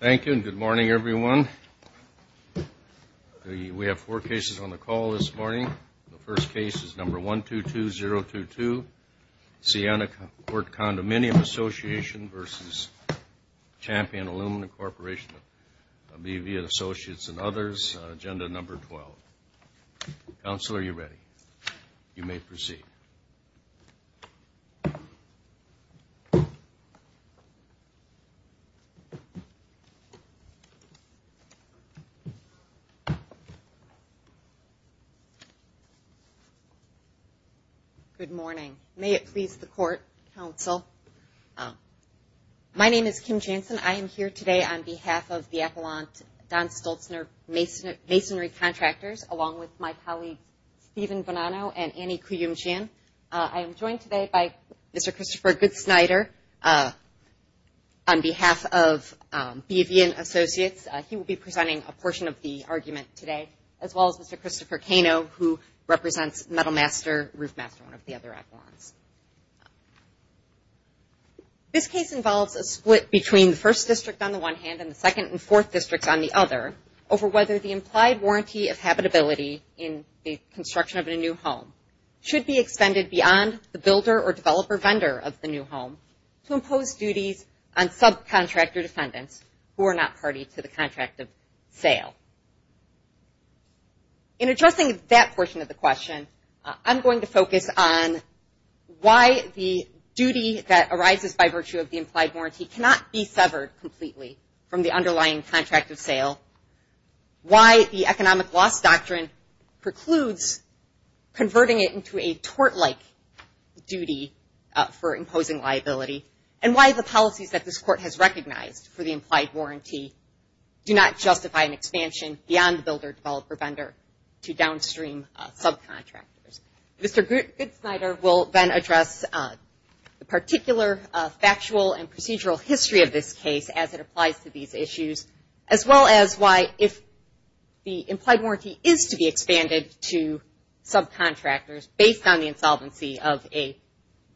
Thank you and good morning everyone. We have four cases on the call this morning. The first case is number 1-2-2-0-2-2. Sienna Court Condominium Association versus Champion Aluminum Corporation of BV Associates and others on agenda number 12. Counselor, are you ready? You may proceed. Good morning. May it please the Court, Counsel. My name is Kim Jansen. I am here today on behalf of the Masonry Contractors, along with my colleagues Stephen Bonanno and Annie Kuyum-Chan. I am joined today by Mr. Christopher Goodsnyder on behalf of BV and Associates. He will be presenting a portion of the argument today, as well as Mr. Christopher Cano, who represents Metal Master, Roof Master, one of the other echelons. This case involves a split between the first district on the one hand and the second and fourth districts on the other over whether the implied warranty of habitability in the construction of a new home should be extended beyond the builder or developer vendor of the new home to impose duties on subcontractor defendants who are not party to the contract of sale. In addressing that portion of the question, I'm going to focus on why the duty that arises by virtue of sale, why the economic loss doctrine precludes converting it into a tort-like duty for imposing liability, and why the policies that this Court has recognized for the implied warranty do not justify an expansion beyond the builder, developer, vendor to downstream subcontractors. Mr. Goodsnyder will then address the particular factual and procedural history of this case as it applies to these issues, as well as why if the implied warranty is to be expanded to subcontractors based on the insolvency of a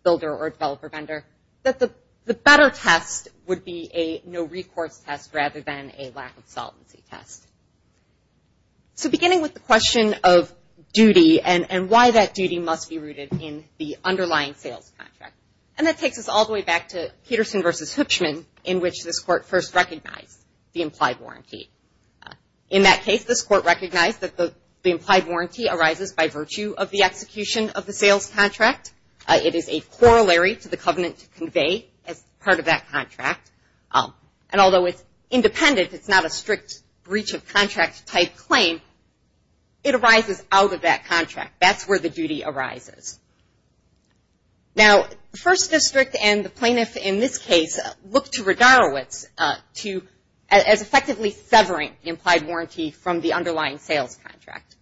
builder or developer vendor, that the better test would be a no-recourse test rather than a lack-of-solvency test. So beginning with the question of duty and why that duty must be rooted in the underlying sales contract, and that takes us all in which this Court first recognized the implied warranty. In that case, this Court recognized that the implied warranty arises by virtue of the execution of the sales contract. It is a corollary to the covenant to convey as part of that contract. And although it's independent, it's not a strict breach-of-contract type claim, it arises out of that contract. That's where the duty arises. Now, the First District and the plaintiff in this case looked to Rogarowitz as effectively severing the implied warranty from the underlying sales contract.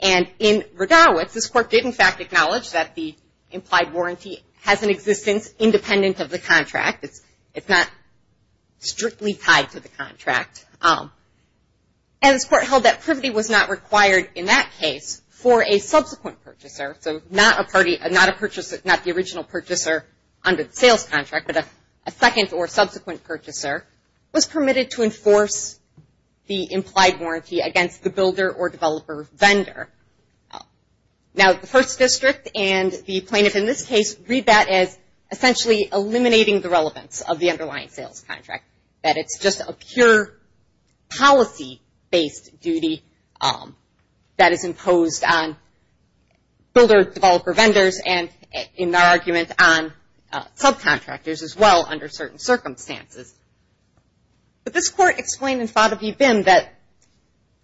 And in Rogarowitz, this Court did in fact acknowledge that the implied warranty has an existence independent of the contract. It's not strictly tied to the contract. And this Court held that privity was not required in that case for a party, not the original purchaser under the sales contract, but a second or subsequent purchaser was permitted to enforce the implied warranty against the builder or developer vendor. Now, the First District and the plaintiff in this case read that as essentially eliminating the relevance of the underlying sales contract, that it's just a pure policy-based duty that is imposed on builder-developer vendors and, in our argument, on subcontractors as well under certain circumstances. But this Court explained and thought of UBIM that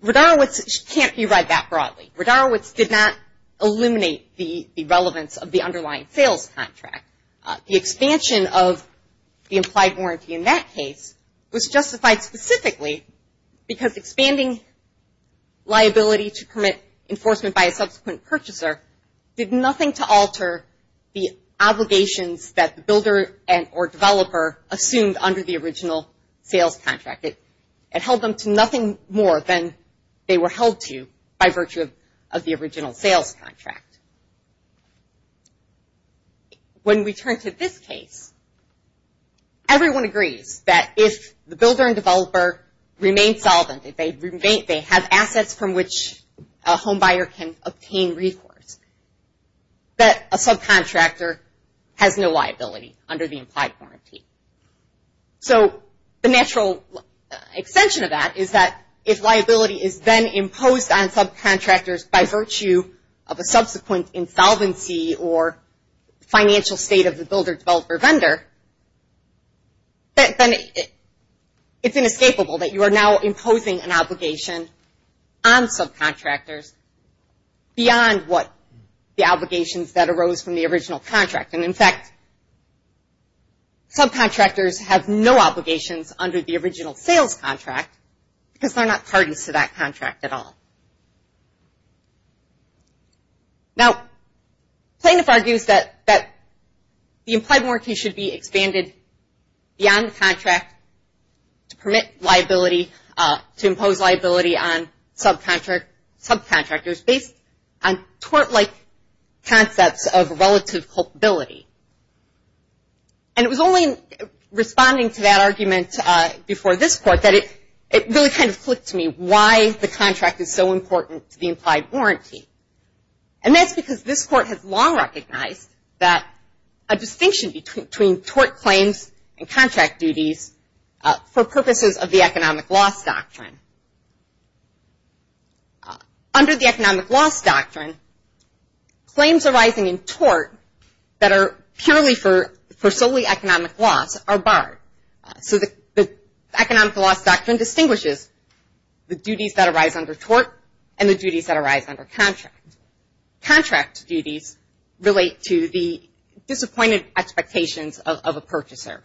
Rogarowitz can't be read that broadly. Rogarowitz did not eliminate the relevance of the underlying sales contract. The expansion of the implied warranty in that case was justified specifically because expanding liability to permit enforcement by a subsequent purchaser did nothing to alter the obligations that the builder or developer assumed under the original sales contract. It held them to nothing more than they were if the builder and developer remain solvent, if they have assets from which a homebuyer can obtain recourse, that a subcontractor has no liability under the implied warranty. So the natural extension of that is that if liability is then imposed on subcontractors by it's inescapable that you are now imposing an obligation on subcontractors beyond what the obligations that arose from the original contract and, in fact, subcontractors have no obligations under the original sales contract because they're not pardons to that contract at all. Now, Plainiff argues that the implied warranty should be expanded beyond the contract to permit liability, to impose liability on subcontractors based on tort-like concepts of relative culpability. And it was only responding to that argument before this Court that it really kind of clicked to me why the contract is so important to the implied warranty. And that's because this Court has long recognized that a distinction between tort claims and contract duties for purposes of the economic loss doctrine. Under the economic loss doctrine, claims arising in tort that are purely for solely economic loss are barred. So the economic loss doctrine distinguishes the duties that arise under tort and the duties that arise under contract. Contract duties relate to the disappointed expectations of a purchaser.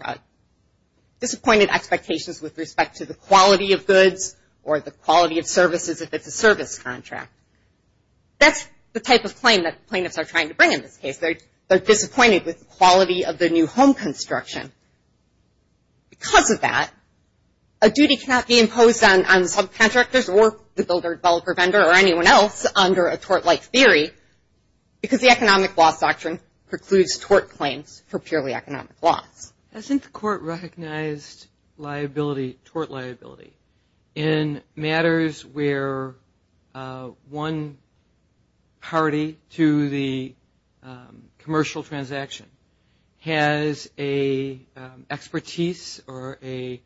Disappointed expectations with respect to the quality of goods or the quality of services if it's a service contract. That's the type of claim that plaintiffs are trying to bring in this case. They're disappointed with the quality of their new home construction. Because of that, a duty cannot be imposed on subcontractors or the builder, developer, vendor, or anyone else under a tort-like theory because the economic loss doctrine precludes tort claims for purely economic loss. Hasn't the Court recognized liability, tort liability, in matters where one party to the commercial transaction has a expertise or a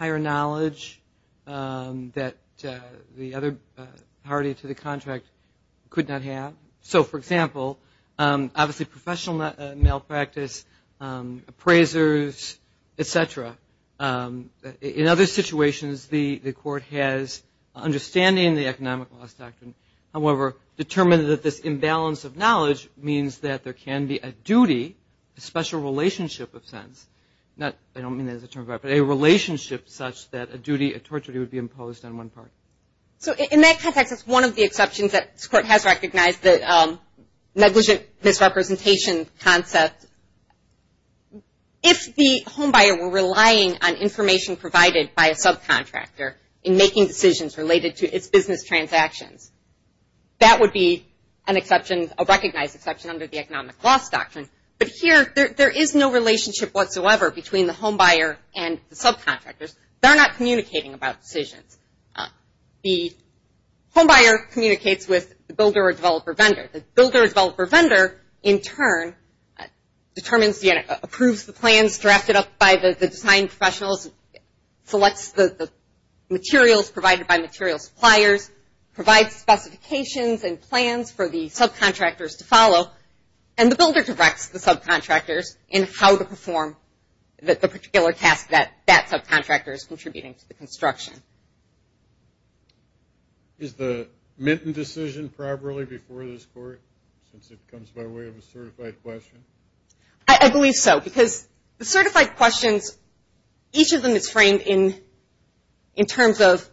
knowledge that the other party to the contract could not have? So, for example, obviously professional malpractice, appraisers, etc. In other situations, the Court has understanding the economic loss doctrine. However, determined that this imbalance of knowledge means that there can be a duty, a special relationship of sense. I don't mean that as a term of art, but a relationship such that a duty, a tort duty would be imposed on one party. So, in that context, that's one of the exceptions that this Court has recognized, the negligent misrepresentation concept. If the homebuyer were relying on information provided by a subcontractor in making decisions related to its business transactions, that would be an exception, a economic loss doctrine. But here, there is no relationship whatsoever between the homebuyer and the subcontractors. They're not communicating about decisions. The homebuyer communicates with the builder or developer vendor. The builder or developer vendor, in turn, approves the plans drafted up by the design professionals, selects the materials provided by material suppliers, provides specifications and plans for the subcontractors to follow, and the builder directs the subcontractors in how to perform the particular task that that subcontractor is contributing to the construction. Is the Minton decision properly before this Court, since it comes by way of a certified question? I believe so, because the certified questions, each of them is framed in terms of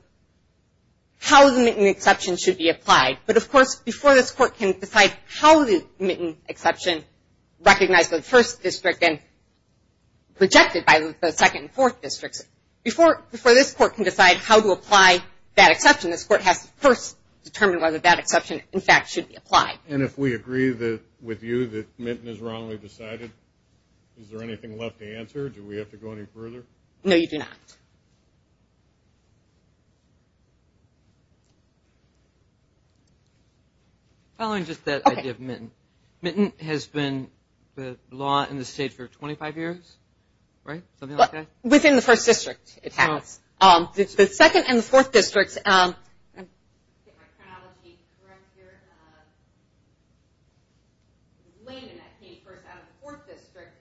how the Minton exception should be applied. But, of course, before this Court can decide how the Minton exception, recognized by the 1st District and rejected by the 2nd and 4th Districts, before this Court can decide how to apply that exception, this Court has to first determine whether that exception, in fact, should be applied. And if we agree with you that Minton is wrongly decided, is there anything left to answer? Do we have to go any further? No, you do not. Following just that idea of Minton, Minton has been the law in the state for 25 years, right? Within the 1st District, it has. The 2nd and the 4th Districts... Let me get my chronology correct here. Layman came first out of the 4th District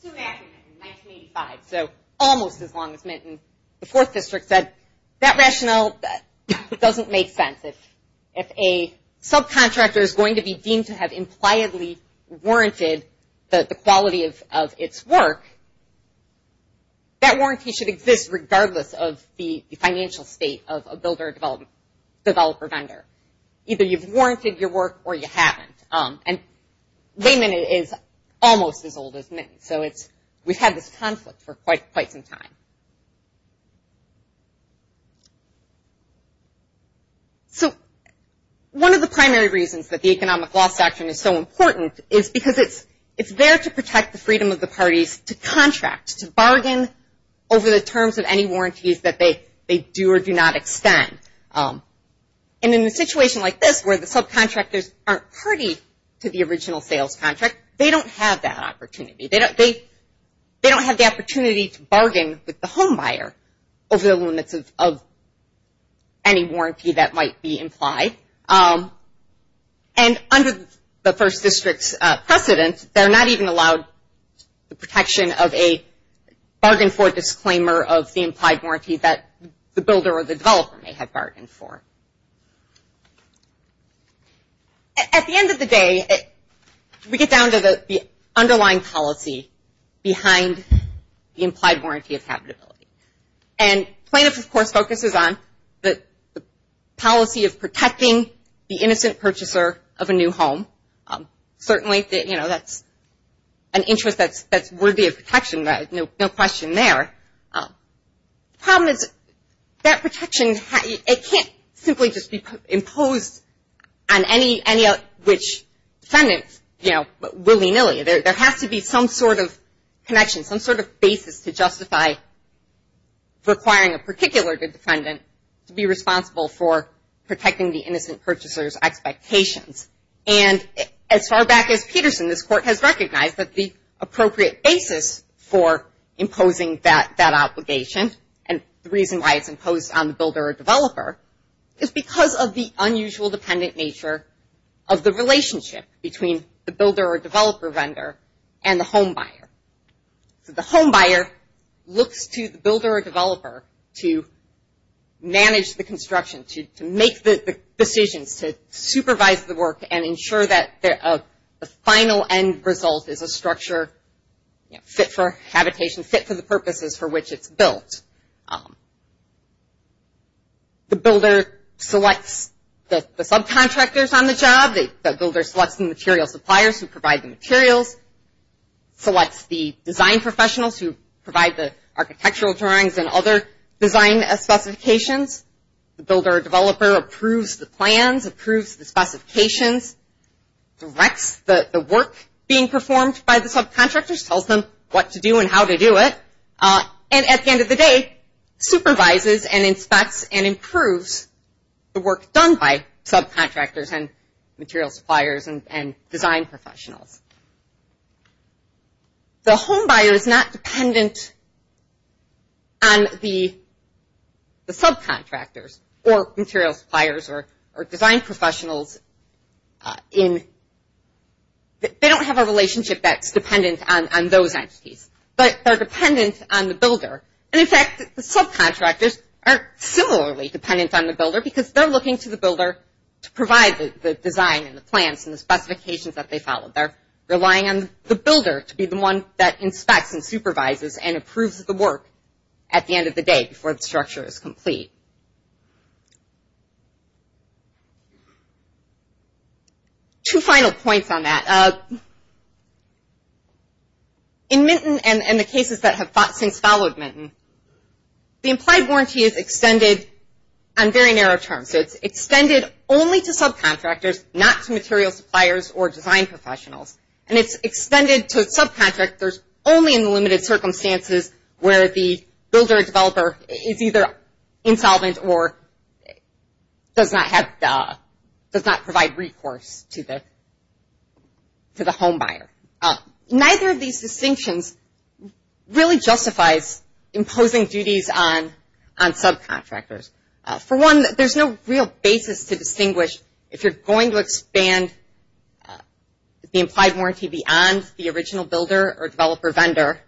soon after Minton in 1985, so almost as long as Minton. The 4th District said, that rationale doesn't make sense. If a subcontractor is going to be deemed to have impliedly warranted the quality of its work, that warranty should exist regardless of the financial state of a builder, developer, vendor. Either you've warranted your work or you haven't. And Layman is almost as old as Minton, so we've had this conflict for quite some time. So, one of the primary reasons that the economic law section is so important is because it's there to protect the freedom of the parties to contract, to bargain over the terms of any warranties that they do or do not extend. And in a situation like this, where the subcontractors aren't party to the original sales contract, they don't have that opportunity. They don't have the opportunity to bargain with the home buyer over the limits of any warranty that might be implied. And under the 1st District's precedent, they're not even allowed the protection of a bargain for disclaimer of the implied warranty that the builder or the developer may have bargained for. At the end of the day, we get down to the underlying policy behind the implied warranty of habitability. And plaintiff, of course, focuses on the policy of protecting the innocent purchaser of a new home. Certainly, you know, that's an interest that's worthy of protection, no question there. The problem is that protection, it can't simply just be imposed on any of which defendants, you know, willy-nilly. There has to be some sort of connection, some sort of basis to justify requiring a particular defendant to be responsible for protecting the innocent purchaser's expectations. And as far back as Peterson, this Court has recognized that the appropriate basis for imposing that obligation and the reason why it's imposed on the builder or developer is because of the unusual dependent nature of the relationship between the builder or developer vendor and the home buyer. So the home buyer looks to the builder or developer to manage the construction, to make the decisions, to supervise the work and ensure that the final end result is a structure, you know, fit for habitation, fit for the purposes for which it's built. The builder selects the subcontractors on the job. The builder selects the material suppliers who provide the materials, selects the design professionals who provide the architectural drawings and other design specifications. The builder or developer approves the plans, approves the specifications, directs the work being performed by the subcontractors, tells them what to do and how to do it. And at the end of the day, supervises and inspects and improves the work done by subcontractors and material suppliers and design professionals. The home buyer is not dependent on the subcontractors or material suppliers or design professionals. They don't have a relationship that's dependent on those entities, but they're dependent on the builder. And in fact, the subcontractors aren't similarly dependent on the builder because they're looking to the builder to provide the design and the plans and the specifications that they follow. They're relying on the builder to be the one that inspects and supervises and approves the work at the end of the day before the structure is complete. Two final points on that. In Minton and the cases that have since followed Minton, the implied warranty is extended on very narrow terms. It's extended only to subcontractors, not to material suppliers or design professionals. And it's extended to subcontractors only in limited circumstances where the builder or developer is either insolvent or does not provide recourse to the home buyer. Neither of these distinctions really justifies imposing duties on subcontractors. For one, there's no real basis to distinguish if you're going to expand the implied warranty beyond the original builder or developer vendor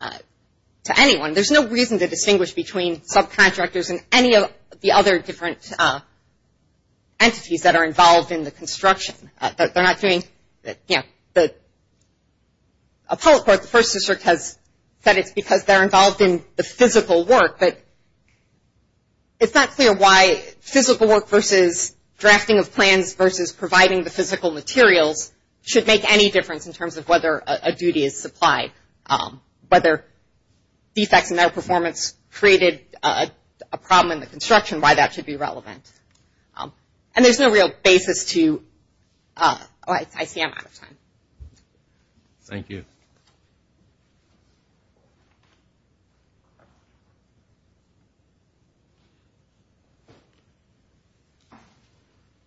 to anyone. There's no reason to distinguish between subcontractors and any of the other different entities that are involved in the construction. They're not doing, you know, the appellate court, the first district, that it's because they're involved in the physical work. But it's not clear why physical work versus drafting of plans versus providing the physical materials should make any difference in terms of whether a duty is supplied, whether defects in their performance created a problem in the construction, why that should be relevant. And there's no real basis to, oh, I see I'm out of time. Thank you.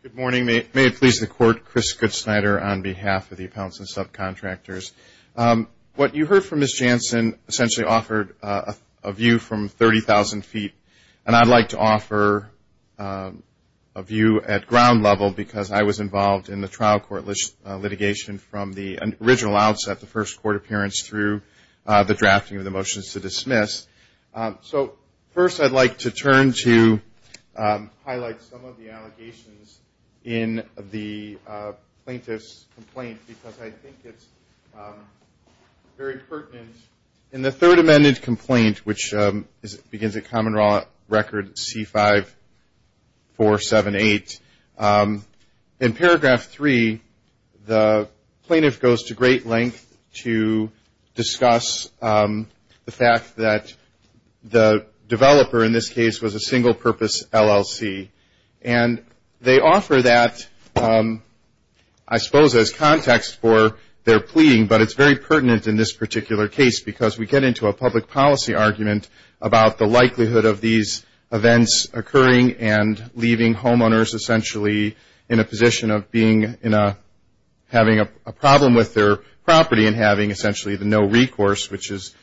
Good morning. May it please the Court, Chris Goodsnyder on behalf of the Appellants and Subcontractors. What you heard from Ms. Jansen essentially offered a view from 30,000 feet, and I'd like to offer a view at ground level because I was involved in the trial court litigation from the original outset, the first court appearance through the drafting of the motions to dismiss. So first I'd like to turn to highlight some of the allegations in the plaintiff's complaint because I think it's very pertinent. In the third amended complaint, which begins at Common Law Record C-5478, in paragraph three the plaintiff goes to great length to discuss the fact that the developer in this case was a single-purpose LLC. And they offer that, I suppose, as context for their pleading, but it's very pertinent in this particular case because we get into a public policy argument about the likelihood of these events occurring and leaving homeowners essentially in a position of having a problem with their property and having essentially the no recourse, which is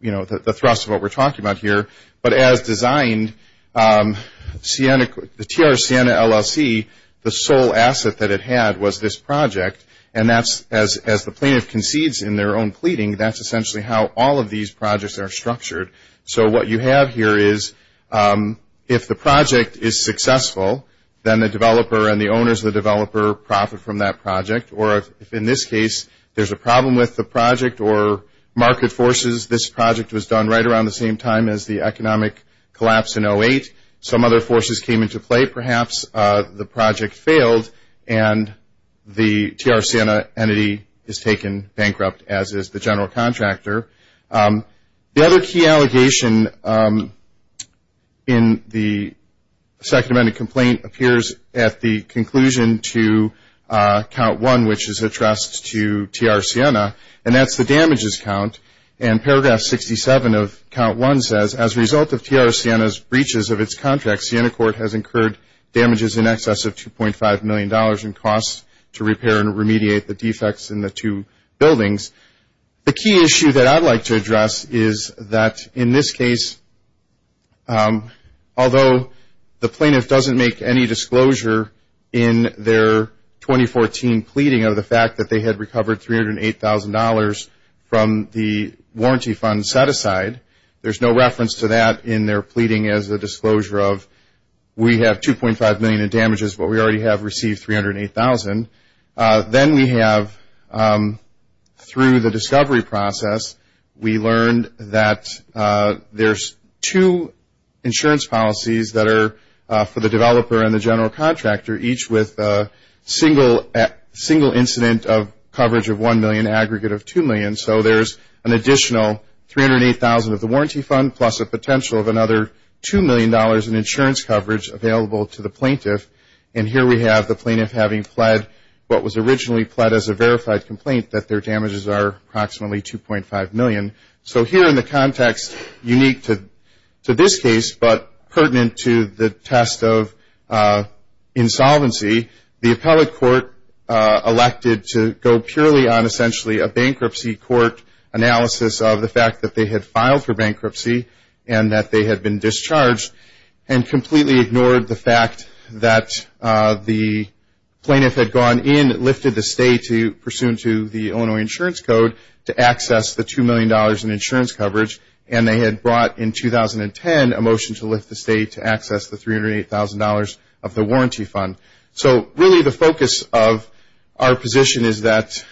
the thrust of what we're talking about here. But as designed, the TR Siena LLC, the sole asset that it had was this project, and as the plaintiff concedes in their own pleading, that's essentially how all of these projects are structured. So what you have here is if the project is successful, then the developer and the owners of the developer profit from that project. Or if in this case there's a problem with the project or market forces, this project was done right around the same time as the economic collapse in 2008. Some other forces came into play. Perhaps the project failed and the TR Siena entity is taken bankrupt, as is the general contractor. The other key allegation in the Second Amendment complaint appears at the conclusion to Count 1, which is addressed to TR Siena, and that's the damages count. And Paragraph 67 of Count 1 says, as a result of TR Siena's breaches of its contracts, Siena Court has incurred damages in excess of $2.5 million in costs to repair and remediate the defects in the two buildings. The key issue that I'd like to address is that in this case, although the plaintiff doesn't make any disclosure in their 2014 pleading of the fact that they had recovered $308,000 from the warranty fund set aside, there's no reference to that in their pleading as a disclosure of, we have $2.5 million in damages, but we already have received $308,000. Then we have, through the discovery process, we learned that there's two insurance policies that are for the developer and the general contractor, each with a single incident of coverage of $1 million, and an aggregate of $2 million. So there's an additional $308,000 of the warranty fund, plus a potential of another $2 million in insurance coverage available to the plaintiff. And here we have the plaintiff having pled what was originally pled as a verified complaint, that their damages are approximately $2.5 million. So here in the context unique to this case, but pertinent to the test of insolvency, the appellate court elected to go purely on essentially a bankruptcy court analysis of the fact that they had filed for bankruptcy and that they had been discharged, and completely ignored the fact that the plaintiff had gone in, lifted the stay pursuant to the Illinois Insurance Code, to access the $2 million in insurance coverage, and they had brought in 2010 a motion to lift the stay to access the $308,000 of the warranty fund. So really the focus of our position is that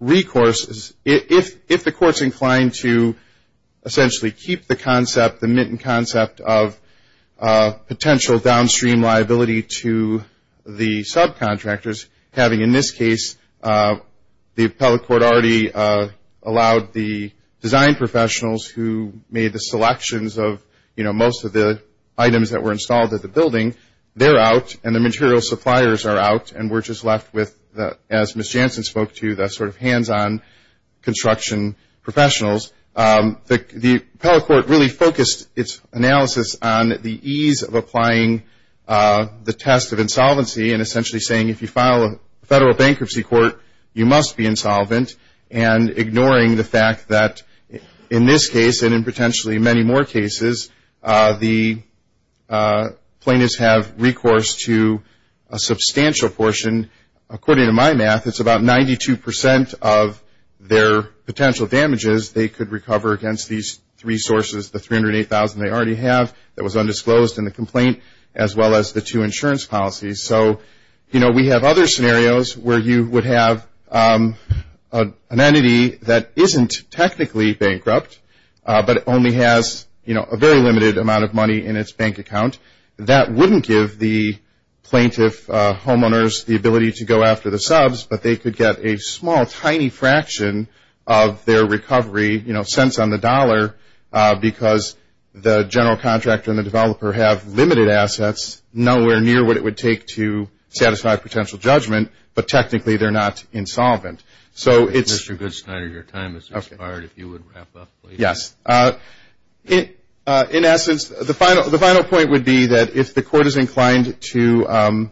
recourse, if the court's inclined to essentially keep the concept, the mitten concept of potential downstream liability to the subcontractors, having in this case the appellate court already allowed the design professionals who made the selections of most of the items that were installed at the building, they're out and the material suppliers are out, and we're just left with, as Ms. Jansen spoke to, the sort of hands-on construction professionals. The appellate court really focused its analysis on the ease of applying the test of insolvency and essentially saying if you file a federal bankruptcy court, you must be insolvent, and ignoring the fact that in this case and in potentially many more cases, the plaintiffs have recourse to a substantial portion. According to my math, it's about 92% of their potential damages they could recover against these three sources, the $308,000 they already have that was undisclosed in the complaint, as well as the two insurance policies. So we have other scenarios where you would have an entity that isn't technically bankrupt, but only has a very limited amount of money in its bank account. That wouldn't give the plaintiff homeowners the ability to go after the subs, but they could get a small, tiny fraction of their recovery, cents on the dollar, because the general contractor and the developer have limited assets, nowhere near what it would take to satisfy a potential judgment, but technically they're not insolvent. So it's- Mr. Goodstein, your time has expired. If you would wrap up, please. Yes. In essence, the final point would be that if the court is inclined to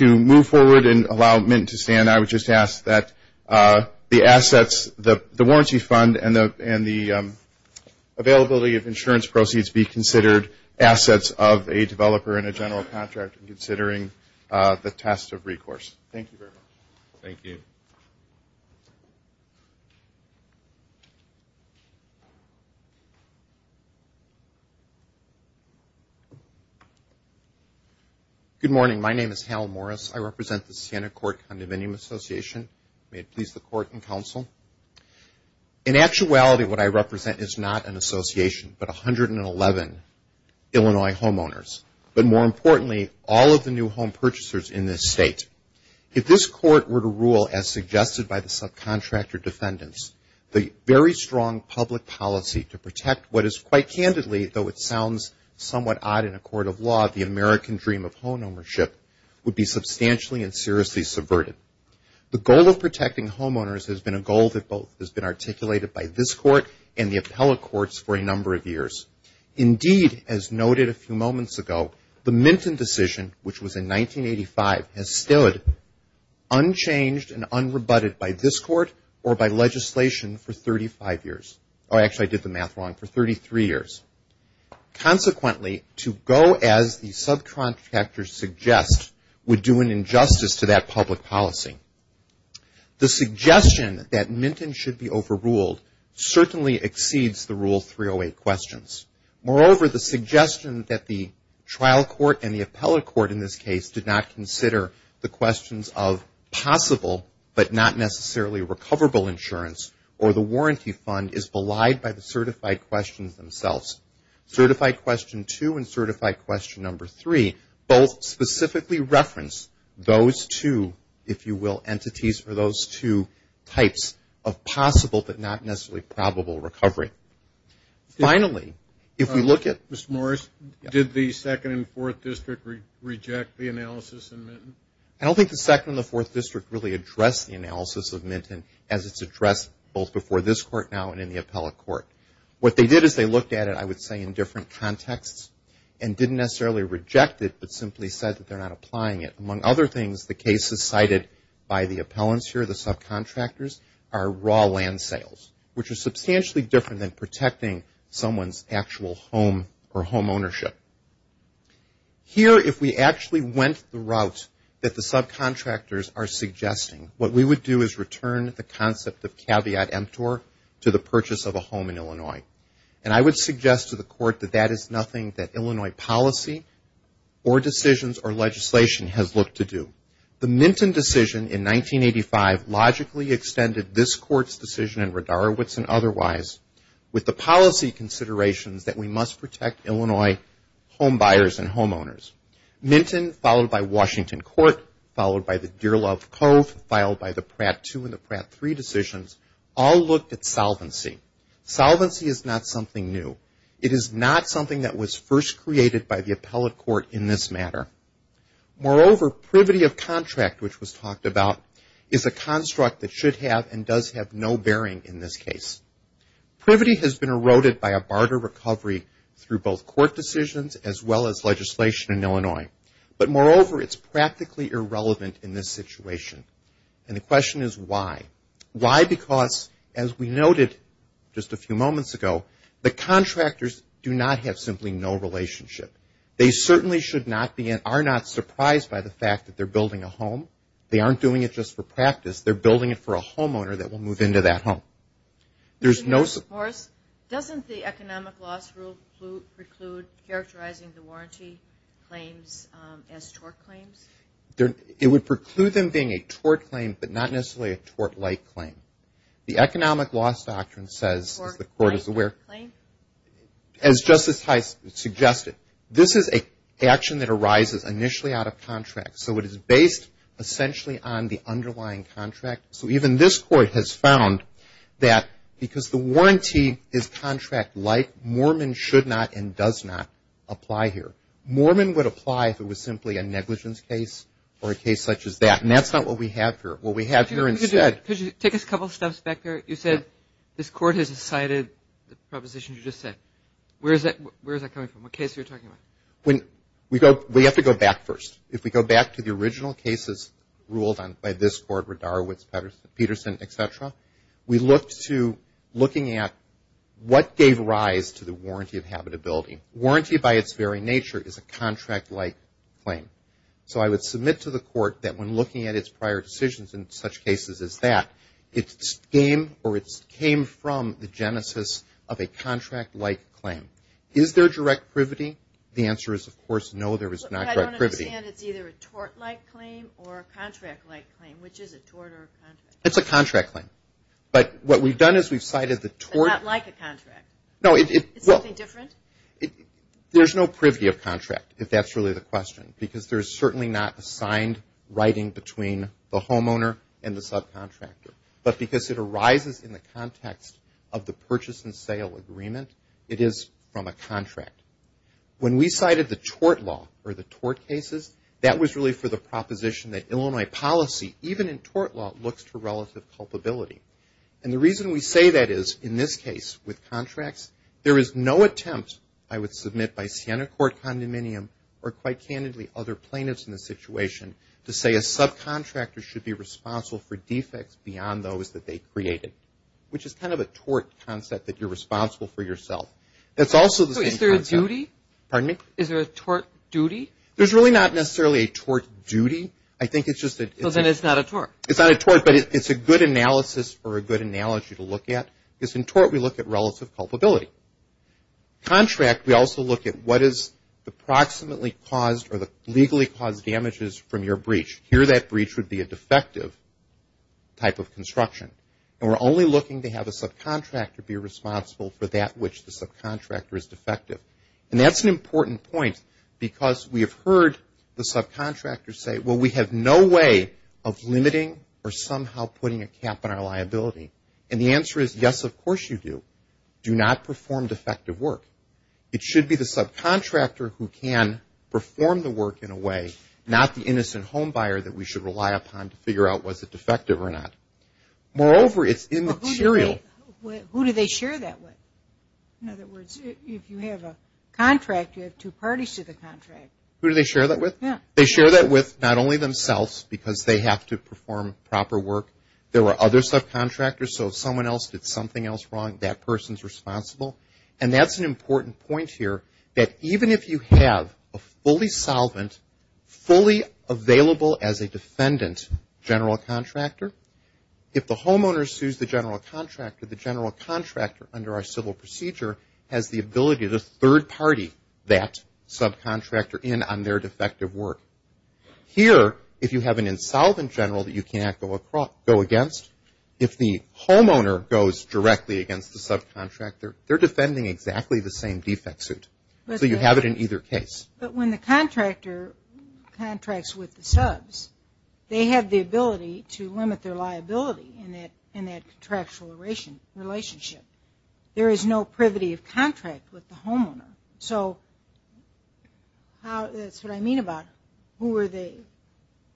move forward and allow Minton to stand, I would just ask that the assets, the warranty fund, and the availability of insurance proceeds be considered assets of a developer and a general contractor considering the test of recourse. Thank you very much. Thank you. Good morning. My name is Hal Morris. I represent the Siena Court Condominium Association. May it please the court and counsel. In actuality, what I represent is not an association, but 111 Illinois homeowners, but more importantly, all of the new home purchasers in this state. If this court were to rule, as suggested by the subcontractor defendants, the very strong public policy to protect what is quite candidly, though it sounds somewhat odd in a court of law, the American dream of homeownership would be substantially and seriously subverted. The goal of protecting homeowners has been a goal that both has been articulated by this court and the appellate courts for a number of years. Indeed, as noted a few moments ago, the Minton decision, which was in 1985, has stood unchanged and unrebutted by this court or by legislation for 35 years. Actually, I did the math wrong, for 33 years. Consequently, to go as the subcontractors suggest would do an injustice to that public policy. The suggestion that Minton should be overruled certainly exceeds the Rule 308 questions. Moreover, the suggestion that the trial court and the appellate court in this case did not consider the questions of possible but not necessarily recoverable insurance or the warranty fund is belied by the certified questions themselves. Certified question two and certified question number three both specifically reference those two, if you will, entities or those two types of possible but not necessarily probable recovery. Finally, if we look at Mr. Morris, did the 2nd and 4th District reject the analysis in Minton? As it's addressed both before this court now and in the appellate court. What they did is they looked at it, I would say, in different contexts and didn't necessarily reject it but simply said that they're not applying it. Among other things, the cases cited by the appellants here, the subcontractors, are raw land sales, which are substantially different than protecting someone's actual home or home ownership. Here, if we actually went the route that the subcontractors are suggesting, what we would do is return the concept of caveat emptor to the purchase of a home in Illinois. And I would suggest to the court that that is nothing that Illinois policy or decisions or legislation has looked to do. The Minton decision in 1985 logically extended this court's decision in Radarowitz and otherwise with the policy considerations that we must protect Illinois home buyers and homeowners. Minton, followed by Washington Court, followed by the Dearlove Cove, filed by the Pratt 2 and the Pratt 3 decisions, all looked at solvency. Solvency is not something new. It is not something that was first created by the appellate court in this matter. Moreover, privity of contract, which was talked about, is a construct that should have and does have no bearing in this case. Privity has been eroded by a barter recovery through both court decisions as well as legislation in Illinois. But moreover, it's practically irrelevant in this situation. And the question is why. Why? Because, as we noted just a few moments ago, the contractors do not have simply no relationship. They certainly are not surprised by the fact that they're building a home. They aren't doing it just for practice. They're building it for a homeowner that will move into that home. There's no support. Doesn't the economic loss rule preclude characterizing the warranty claims as tort claims? It would preclude them being a tort claim but not necessarily a tort-like claim. The economic loss doctrine says, as the court is aware, as Justice Heist suggested, this is an action that arises initially out of contract. So it is based essentially on the underlying contract. So even this court has found that because the warranty is contract-like, Mormon should not and does not apply here. Mormon would apply if it was simply a negligence case or a case such as that. And that's not what we have here. What we have here instead — Could you take us a couple steps back there? You said this court has decided the proposition you just said. Where is that coming from? What case are you talking about? We have to go back first. If we go back to the original cases ruled by this court where Darwitz, Peterson, et cetera, we looked to looking at what gave rise to the warranty of habitability. Warranty by its very nature is a contract-like claim. So I would submit to the court that when looking at its prior decisions in such cases as that, it came from the genesis of a contract-like claim. Is there direct privity? The answer is, of course, no, there is not direct privity. I understand it's either a tort-like claim or a contract-like claim. Which is it, tort or contract? It's a contract claim. But what we've done is we've cited the tort — But not like a contract. No, it — Is it something different? There's no privity of contract, if that's really the question, because there's certainly not a signed writing between the homeowner and the subcontractor. But because it arises in the context of the purchase and sale agreement, it is from a contract. When we cited the tort law or the tort cases, that was really for the proposition that Illinois policy, even in tort law, looks for relative culpability. And the reason we say that is, in this case with contracts, there is no attempt, I would submit, by Siena Court Condominium or, quite candidly, other plaintiffs in this situation, to say a subcontractor should be responsible for defects beyond those that they created, which is kind of a tort concept that you're responsible for yourself. That's also the same concept. So is there a duty? Pardon me? Is there a tort duty? There's really not necessarily a tort duty. I think it's just that — Well, then it's not a tort. It's not a tort, but it's a good analysis or a good analogy to look at. Because in tort, we look at relative culpability. Contract, we also look at what is the approximately caused or the legally caused damages from your breach. Here, that breach would be a defective type of construction. And we're only looking to have a subcontractor be responsible for that which the subcontractor is defective. And that's an important point because we have heard the subcontractors say, well, we have no way of limiting or somehow putting a cap on our liability. And the answer is, yes, of course you do. Do not perform defective work. It should be the subcontractor who can perform the work in a way, not the innocent home buyer that we should rely upon to figure out was it defective or not. Moreover, it's immaterial. Who do they share that with? In other words, if you have a contract, you have two parties to the contract. Who do they share that with? They share that with not only themselves because they have to perform proper work. There are other subcontractors. So if someone else did something else wrong, that person is responsible. And that's an important point here that even if you have a fully solvent, fully available as a defendant general contractor, if the homeowner sues the general contractor, the general contractor under our civil procedure has the ability to third party that subcontractor in on their defective work. Here, if you have an insolvent general that you cannot go against, if the homeowner goes directly against the subcontractor, they're defending exactly the same defect suit. So you have it in either case. But when the contractor contracts with the subs, they have the ability to limit their liability in that contractual relationship. There is no privity of contract with the homeowner. So that's what I mean about who are they?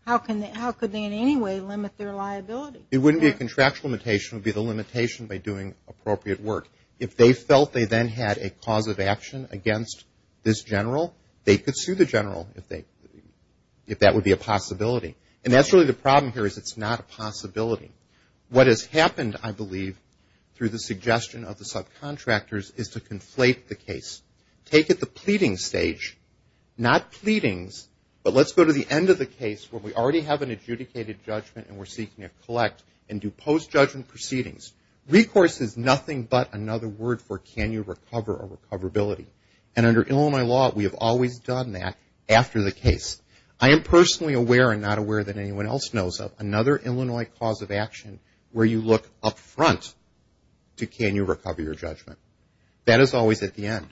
How could they in any way limit their liability? It wouldn't be a contractual limitation. It would be the limitation by doing appropriate work. If they felt they then had a cause of action against this general, they could sue the general if that would be a possibility. And that's really the problem here is it's not a possibility. What has happened, I believe, through the suggestion of the subcontractors is to conflate the case. Take it to the pleading stage. Not pleadings, but let's go to the end of the case where we already have an adjudicated judgment and we're seeking to collect and do post-judgment proceedings. Recourse is nothing but another word for can you recover or recoverability. And under Illinois law, we have always done that after the case. I am personally aware and not aware that anyone else knows of another Illinois cause of action where you look up front to can you recover your judgment. That is always at the end.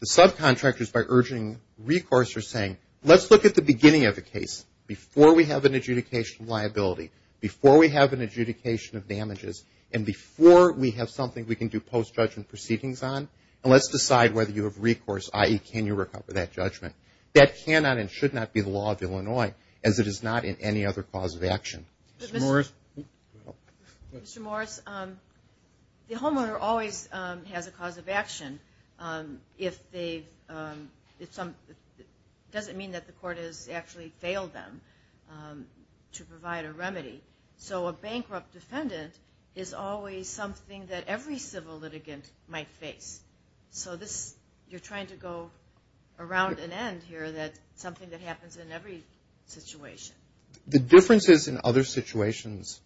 The subcontractors, by urging recourse, are saying, let's look at the beginning of the case before we have an adjudication of liability, before we have an adjudication of damages, and before we have something we can do post-judgment proceedings on, and let's decide whether you have recourse, i.e., can you recover that judgment. That cannot and should not be the law of Illinois, as it is not in any other cause of action. Mr. Morris? Mr. Morris, the homeowner always has a cause of action. It doesn't mean that the court has actually failed them to provide a remedy. So a bankrupt defendant is always something that every civil litigant might face. So you're trying to go around an end here that something that happens in every situation. The differences in other situations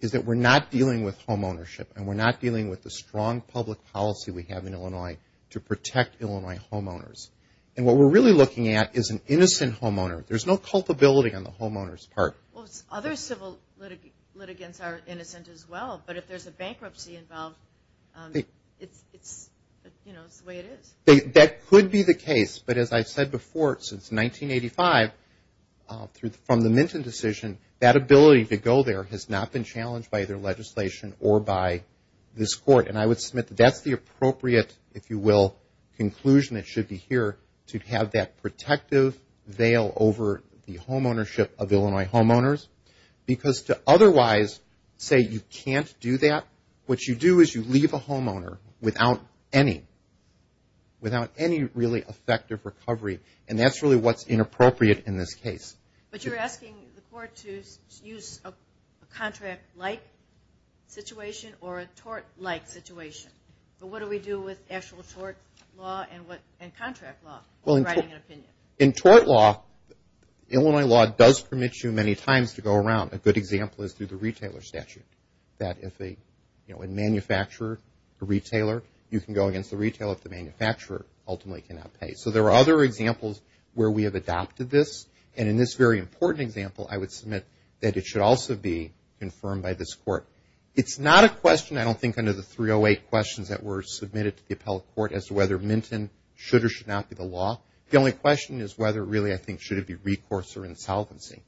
is that we're not dealing with homeownership, and we're not dealing with the strong public policy we have in Illinois to protect Illinois homeowners. And what we're really looking at is an innocent homeowner. There's no culpability on the homeowners' part. Well, other civil litigants are innocent as well, but if there's a bankruptcy involved, it's the way it is. That could be the case, but as I've said before, since 1985, from the Minton decision, that ability to go there has not been challenged by either legislation or by this court. And I would submit that that's the appropriate, if you will, conclusion that should be here, to have that protective veil over the homeownership of Illinois homeowners. Because to otherwise say you can't do that, what you do is you leave a homeowner without any really effective recovery, and that's really what's inappropriate in this case. But you're asking the court to use a contract-like situation or a tort-like situation. But what do we do with actual tort law and contract law when writing an opinion? In tort law, Illinois law does permit you many times to go around. A good example is through the retailer statute, that if a manufacturer, a retailer, you can go against the retailer if the manufacturer ultimately cannot pay. So there are other examples where we have adopted this. And in this very important example, I would submit that it should also be confirmed by this court. It's not a question, I don't think, under the 308 questions that were submitted to the appellate court as to whether Minton should or should not be the law. The only question is whether, really, I think, should it be recourse or insolvency.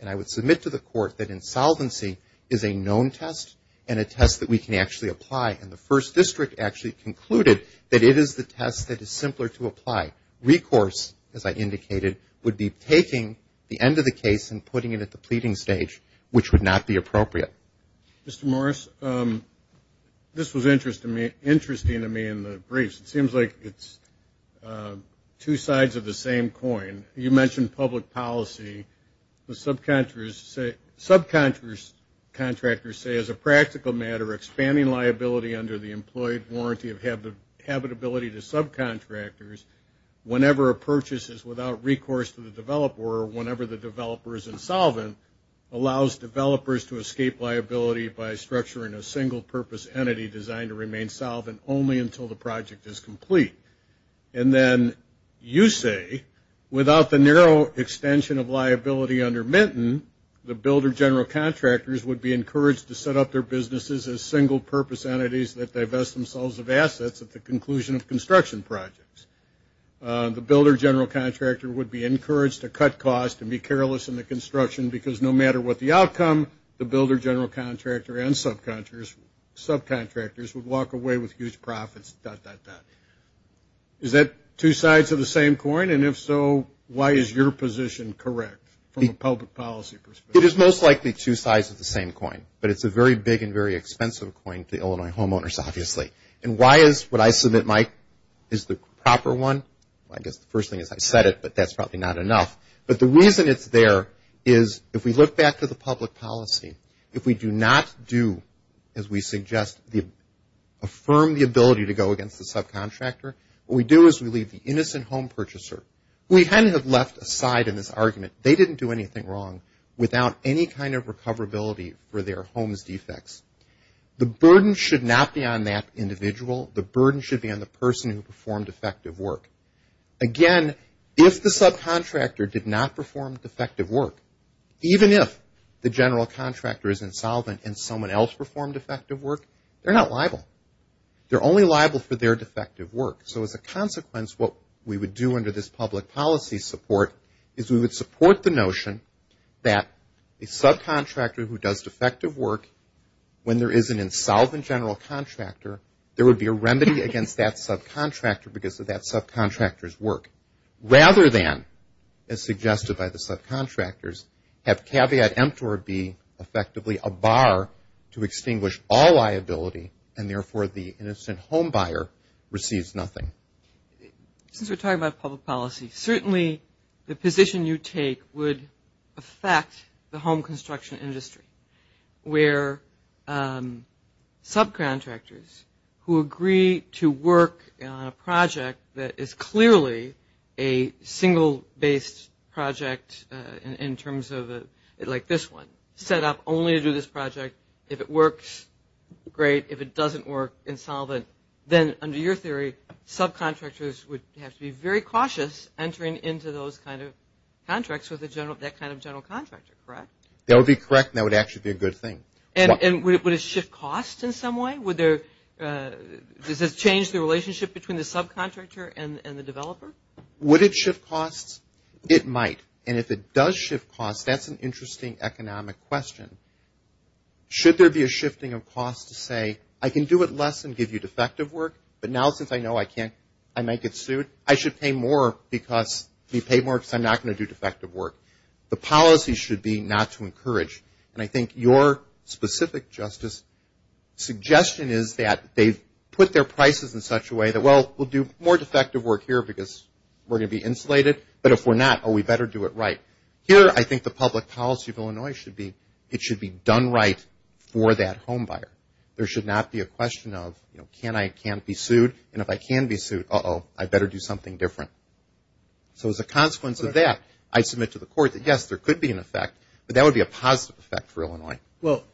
And I would submit to the court that insolvency is a known test and a test that we can actually apply. And the first district actually concluded that it is the test that is simpler to apply. Recourse, as I indicated, would be taking the end of the case and putting it at the pleading stage, which would not be appropriate. Mr. Morris, this was interesting to me in the briefs. It seems like it's two sides of the same coin. You mentioned public policy. Subcontractors say, as a practical matter, expanding liability under the employed warranty of habitability to subcontractors whenever a purchase is without recourse to the developer or whenever the developer is insolvent allows developers to escape liability by structuring a single-purpose entity designed to remain solvent only until the project is complete. And then you say, without the narrow extension of liability under Minton, the builder general contractors would be encouraged to set up their businesses as single-purpose entities that divest themselves of assets at the conclusion of construction projects. The builder general contractor would be encouraged to cut costs and be careless in the construction because no matter what the outcome, the builder general contractor and subcontractors would walk away with huge profits, dot, dot, dot. Is that two sides of the same coin? And if so, why is your position correct from a public policy perspective? It is most likely two sides of the same coin, but it's a very big and very expensive coin to Illinois homeowners, obviously. And why is what I submit, Mike, is the proper one? I guess the first thing is I said it, but that's probably not enough. But the reason it's there is if we look back to the public policy, if we do not do, as we suggest, affirm the ability to go against the subcontractor, what we do is we leave the innocent home purchaser. We kind of have left aside in this argument, they didn't do anything wrong without any kind of recoverability for their home's defects. The burden should not be on that individual. The burden should be on the person who performed effective work. Again, if the subcontractor did not perform effective work, even if the general contractor is insolvent and someone else performed effective work, they're not liable. They're only liable for their defective work. So as a consequence, what we would do under this public policy support is we would support the notion that a subcontractor who does defective work, when there is an insolvent general contractor, there would be a remedy against that subcontractor because of that subcontractor's work, rather than, as suggested by the subcontractors, have caveat emptor be effectively a bar to extinguish all liability and therefore the innocent home buyer receives nothing. Since we're talking about public policy, certainly the position you take would affect the home construction industry where subcontractors who agree to work on a project that is clearly a single-based project in terms of like this one, set up only to do this project. If it works, great. If it doesn't work, insolvent. Then under your theory, subcontractors would have to be very cautious entering into those kind of contracts with that kind of general contractor, correct? That would be correct and that would actually be a good thing. And would it shift costs in some way? Does it change the relationship between the subcontractor and the developer? Would it shift costs? It might. And if it does shift costs, that's an interesting economic question. Should there be a shifting of costs to say, I can do it less and give you defective work, but now since I know I might get sued, I should pay more because I'm not going to do defective work. The policy should be not to encourage. And I think your specific, Justice, suggestion is that they've put their prices in such a way that, well, we'll do more defective work here because we're going to be insulated, but if we're not, oh, we better do it right. Here, I think the public policy of Illinois should be it should be done right for that home buyer. There should not be a question of can I and can't be sued, and if I can be sued, uh-oh, I better do something different. So as a consequence of that, I submit to the court that, yes, there could be an effect, but that would be a positive effect for Illinois. Well,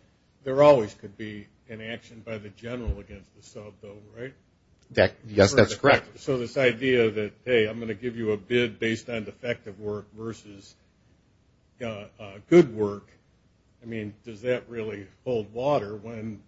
there always could be an action by the general against the sub, though, right? Yes, that's correct. So this idea that, hey, I'm going to give you a bid based on defective work versus good work, I mean, does that really hold water when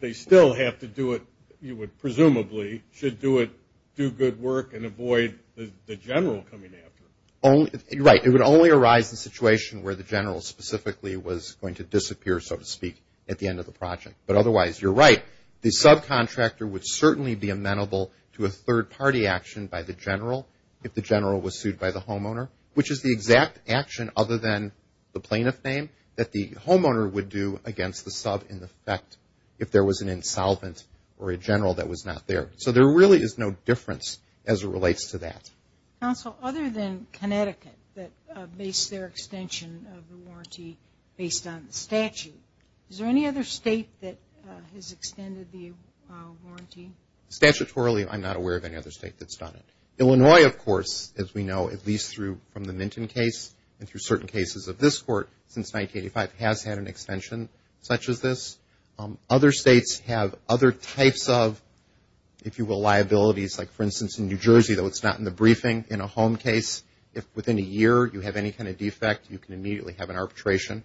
they still have to do it, you would presumably should do it, do good work, and avoid the general coming after it? Right. It would only arise in a situation where the general specifically was going to disappear, so to speak, at the end of the project. But otherwise, you're right. The subcontractor would certainly be amenable to a third-party action by the general if the general was sued by the homeowner, which is the exact action other than the plaintiff name that the homeowner would do against the sub in effect if there was an insolvent or a general that was not there. So there really is no difference as it relates to that. Counsel, other than Connecticut, that based their extension of the warranty based on the statute, is there any other state that has extended the warranty? Statutorily, I'm not aware of any other state that's done it. Illinois, of course, as we know, at least from the Minton case and through certain cases of this court since 1985, has had an extension such as this. Other states have other types of, if you will, liabilities. Like, for instance, in New Jersey, though it's not in the briefing, in a home case, if within a year you have any kind of defect, you can immediately have an arbitration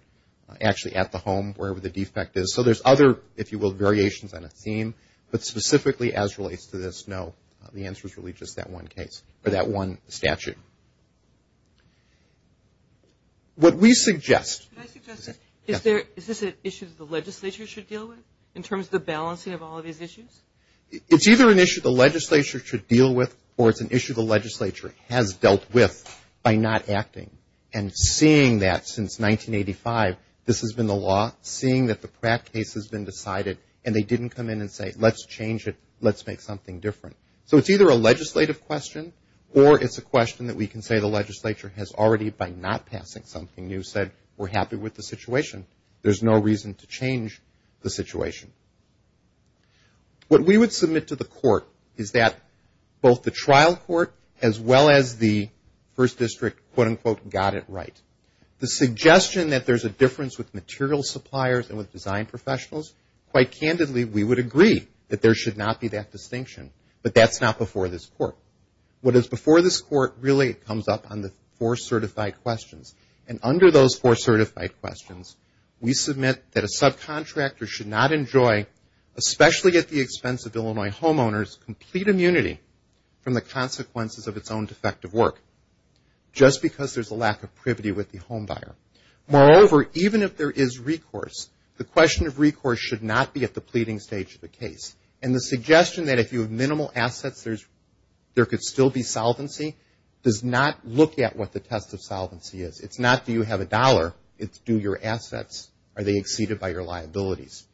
actually at the home, wherever the defect is. So there's other, if you will, variations on a theme. But specifically as relates to this, no. The answer is really just that one case or that one statute. What we suggest. Could I suggest this? Yes. Is this an issue the legislature should deal with in terms of the balancing of all of these issues? It's either an issue the legislature should deal with or it's an issue the legislature has dealt with by not acting. And seeing that since 1985, this has been the law, seeing that the Pratt case has been decided and they didn't come in and say, let's change it, let's make something different. So it's either a legislative question or it's a question that we can say the legislature has already, by not passing something new, said we're happy with the situation. There's no reason to change the situation. What we would submit to the court is that both the trial court as well as the first district, quote, unquote, got it right. The suggestion that there's a difference with material suppliers and with design professionals, quite candidly, we would agree that there should not be that distinction. But that's not before this court. What is before this court really comes up on the four certified questions. And under those four certified questions, we submit that a subcontractor should not enjoy, especially at the expense of Illinois homeowners, complete immunity from the consequences of its own defective work just because there's a lack of privity with the home buyer. Moreover, even if there is recourse, the question of recourse should not be at the pleading stage of the case. And the suggestion that if you have minimal assets, there could still be solvency does not look at what the test of solvency is. It's not do you have a dollar, it's do your assets, are they exceeded by your liabilities.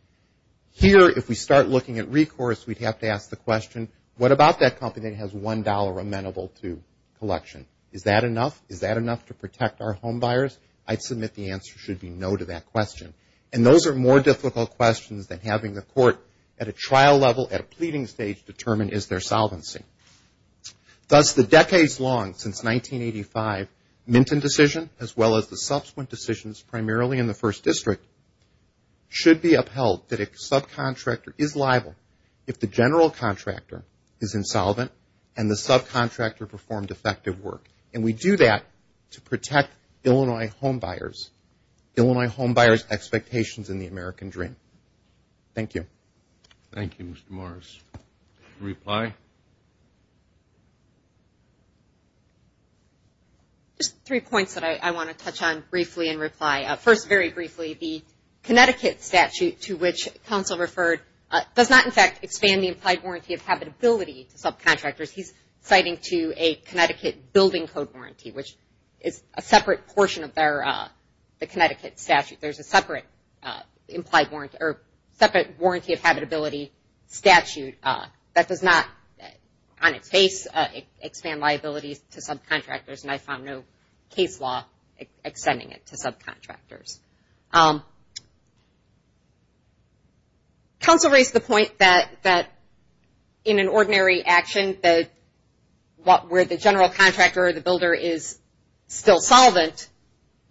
Here, if we start looking at recourse, we'd have to ask the question, what about that company that has $1 amenable to collection? Is that enough? Is that enough to protect our home buyers? I'd submit the answer should be no to that question. And those are more difficult questions than having the court at a trial level, at a pleading stage, determine is there solvency. Thus, the decades long, since 1985, Minton decision as well as the subsequent decisions primarily in the First District should be upheld that a subcontractor is liable if the general contractor is insolvent and the subcontractor performed defective work. And we do that to protect Illinois home buyers. Illinois home buyers' expectations in the American dream. Thank you. Thank you, Mr. Morris. Reply. Just three points that I want to touch on briefly and reply. First, very briefly, the Connecticut statute to which counsel referred does not in fact expand the implied warranty of habitability to subcontractors. He's citing to a Connecticut building code warranty, which is a separate portion of the Connecticut statute. There's a separate warranty of habitability statute that does not on its face expand liabilities to subcontractors. And I found no case law extending it to subcontractors. Counsel raised the point that in an ordinary action, where the general contractor or the builder is still solvent,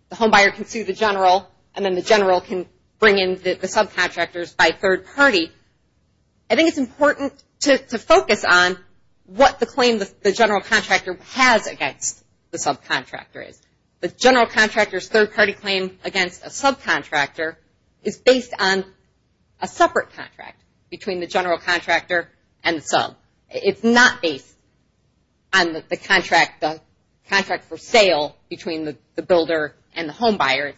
the home buyer can sue the general and then the general can bring in the subcontractors by third party. I think it's important to focus on what the claim the general contractor has against the subcontractor is. The general contractor's third-party claim against a subcontractor is not based on the contract for sale between the builder and the home buyer.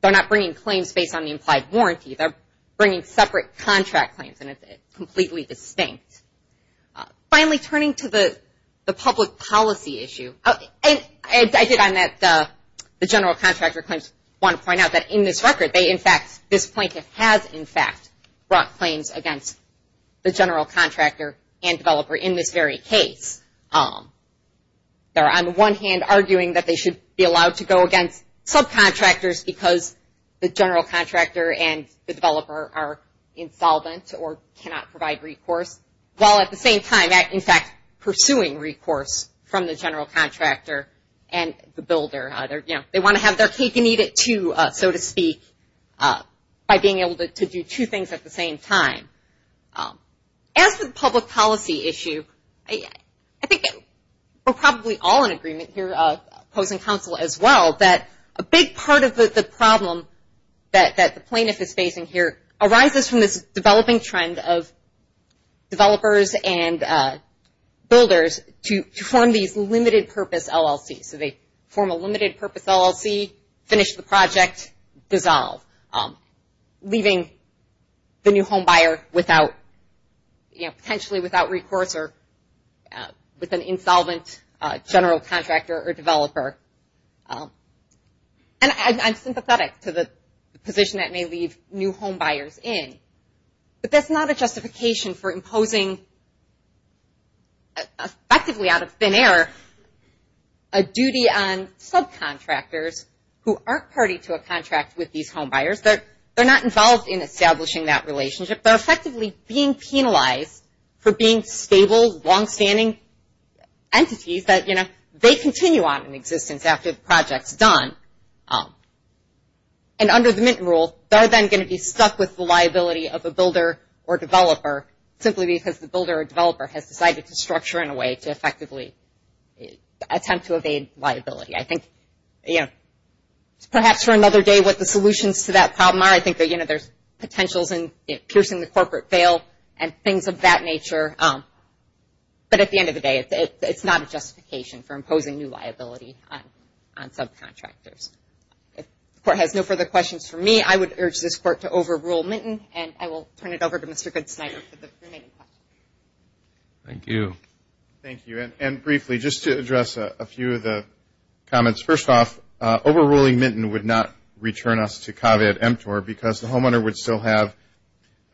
They're not bringing claims based on the implied warranty. They're bringing separate contract claims, and it's completely distinct. Finally, turning to the public policy issue, I did on that the general contractor claims want to point out that in this record, this plaintiff has, in fact, brought claims against the general contractor and developer in this very case. They're on the one hand arguing that they should be allowed to go against subcontractors because the general contractor and the developer are insolvent or cannot provide recourse, while at the same time, in fact, pursuing recourse from the general contractor and the builder. They want to have their cake and eat it, too, so to speak, by being able to do two things at the same time. As for the public policy issue, I think we're probably all in agreement here, opposing counsel as well, that a big part of the problem that the plaintiff is facing here arises from this developing trend of developers and builders to form these limited-purpose LLCs. So they form a limited-purpose LLC, finish the project, dissolve, leaving the new homebuyer potentially without recourse or with an insolvent general contractor or developer. And I'm sympathetic to the position that may leave new homebuyers in, but that's not a justification for imposing, effectively out of thin air, a duty on subcontractors who aren't party to a contract with these homebuyers. They're not involved in establishing that relationship. They're effectively being penalized for being stable, longstanding entities that, you know, they continue on in existence after the project's done. And under the Minton Rule, they're then going to be stuck with the liability of a builder or developer simply because the builder or developer has decided to structure in a way to effectively attempt to evade liability. I think, you know, perhaps for another day what the solutions to that problem are. I think that, you know, there's potentials in piercing the corporate veil and things of that nature. But at the end of the day, it's not a justification for imposing new liability on subcontractors. If the Court has no further questions for me, I would urge this Court to overrule Minton, and I will turn it over to Mr. Goodsnyder for the remaining questions. Thank you. Thank you. And briefly, just to address a few of the comments. First off, overruling Minton would not return us to caveat emptor because the homeowner would still have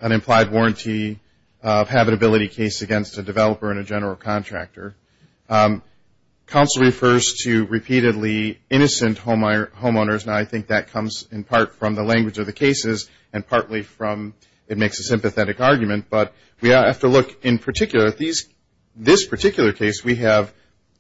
an implied warranty of habitability case against a developer and a general contractor. Counsel refers to repeatedly innocent homeowners, and I think that comes in part from the language of the cases and partly from it makes a sympathetic argument. But we have to look in particular at this particular case. We have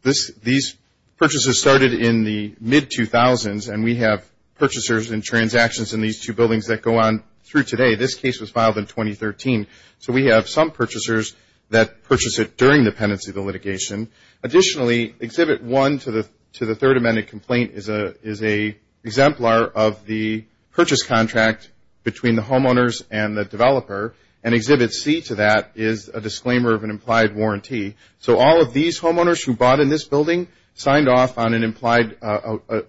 these purchases started in the mid-2000s, and we have purchasers and transactions in these two buildings that go on through today. This case was filed in 2013. So we have some purchasers that purchase it during the pendency of the litigation. Additionally, Exhibit 1 to the Third Amendment complaint is an exemplar of the purchase contract between the homeowners and the developer, and Exhibit C to that is a disclaimer of an implied warranty. So all of these homeowners who bought in this building signed off on an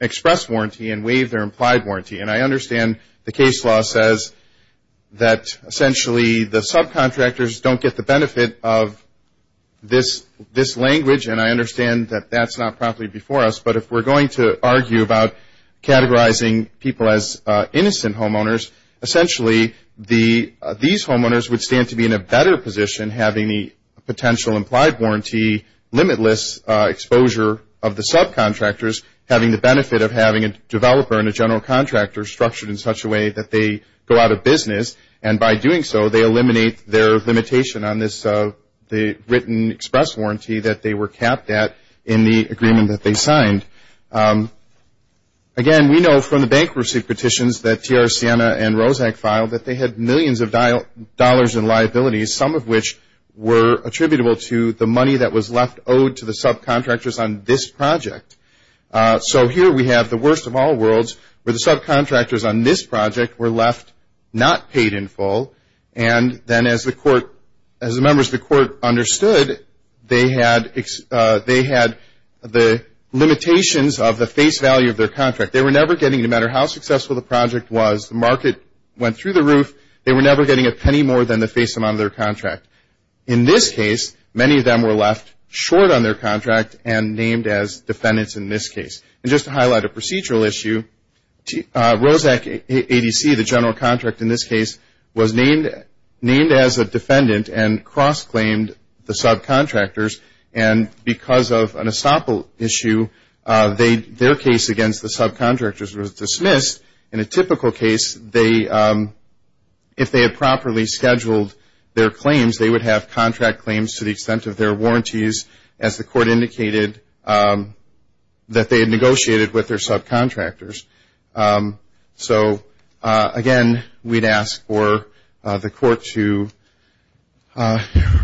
express warranty and waived their implied warranty. And I understand the case law says that, essentially, the subcontractors don't get the benefit of this language, and I understand that that's not properly before us. But if we're going to argue about categorizing people as innocent homeowners, essentially these homeowners would stand to be in a better position having the potential implied warranty limitless exposure of the subcontractors having the benefit of having a developer and a general contractor structured in such a way that they go out of business, and by doing so they eliminate their limitation on the written express warranty that they were capped at in the agreement that they signed. Again, we know from the bankruptcy petitions that TR Siena and Roszak filed that they had millions of dollars in liabilities, some of which were attributable to the money that was left owed to the subcontractors on this project. So here we have the worst of all worlds where the subcontractors on this project were left not paid in full, and then as the members of the court understood, they had the limitations of the face value of their contract. They were never getting, no matter how successful the project was, the market went through the roof, they were never getting a penny more than the face amount of their contract. In this case, many of them were left short on their contract and named as defendants in this case. And just to highlight a procedural issue, Roszak ADC, the general contract in this case, was named as a defendant and cross-claimed the subcontractors, and because of an estoppel issue, their case against the subcontractors was dismissed. In a typical case, if they had properly scheduled their claims, they would have contract claims to the extent of their warranties, as the court indicated that they had negotiated with their subcontractors. So again, we'd ask for the court to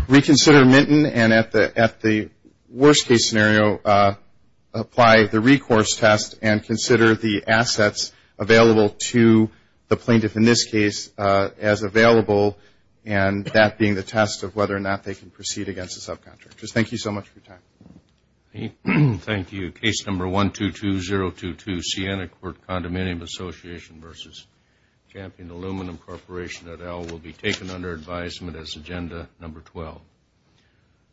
reconsider Minton and at the worst-case scenario, apply the recourse test and consider the assets available to the plaintiff in this case as available, and that being the test of whether or not they can proceed against the subcontractors. Thank you so much for your time. Thank you. Case number 122022, Siena Court Condominium Association v. Champion Aluminum Corporation, et al., will be taken under advisement as agenda number 12.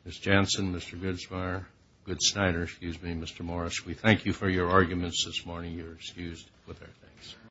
Ms. Janssen, Mr. Goodsteiner, excuse me, Mr. Morris, we thank you for your arguments this morning. You're excused with our thanks.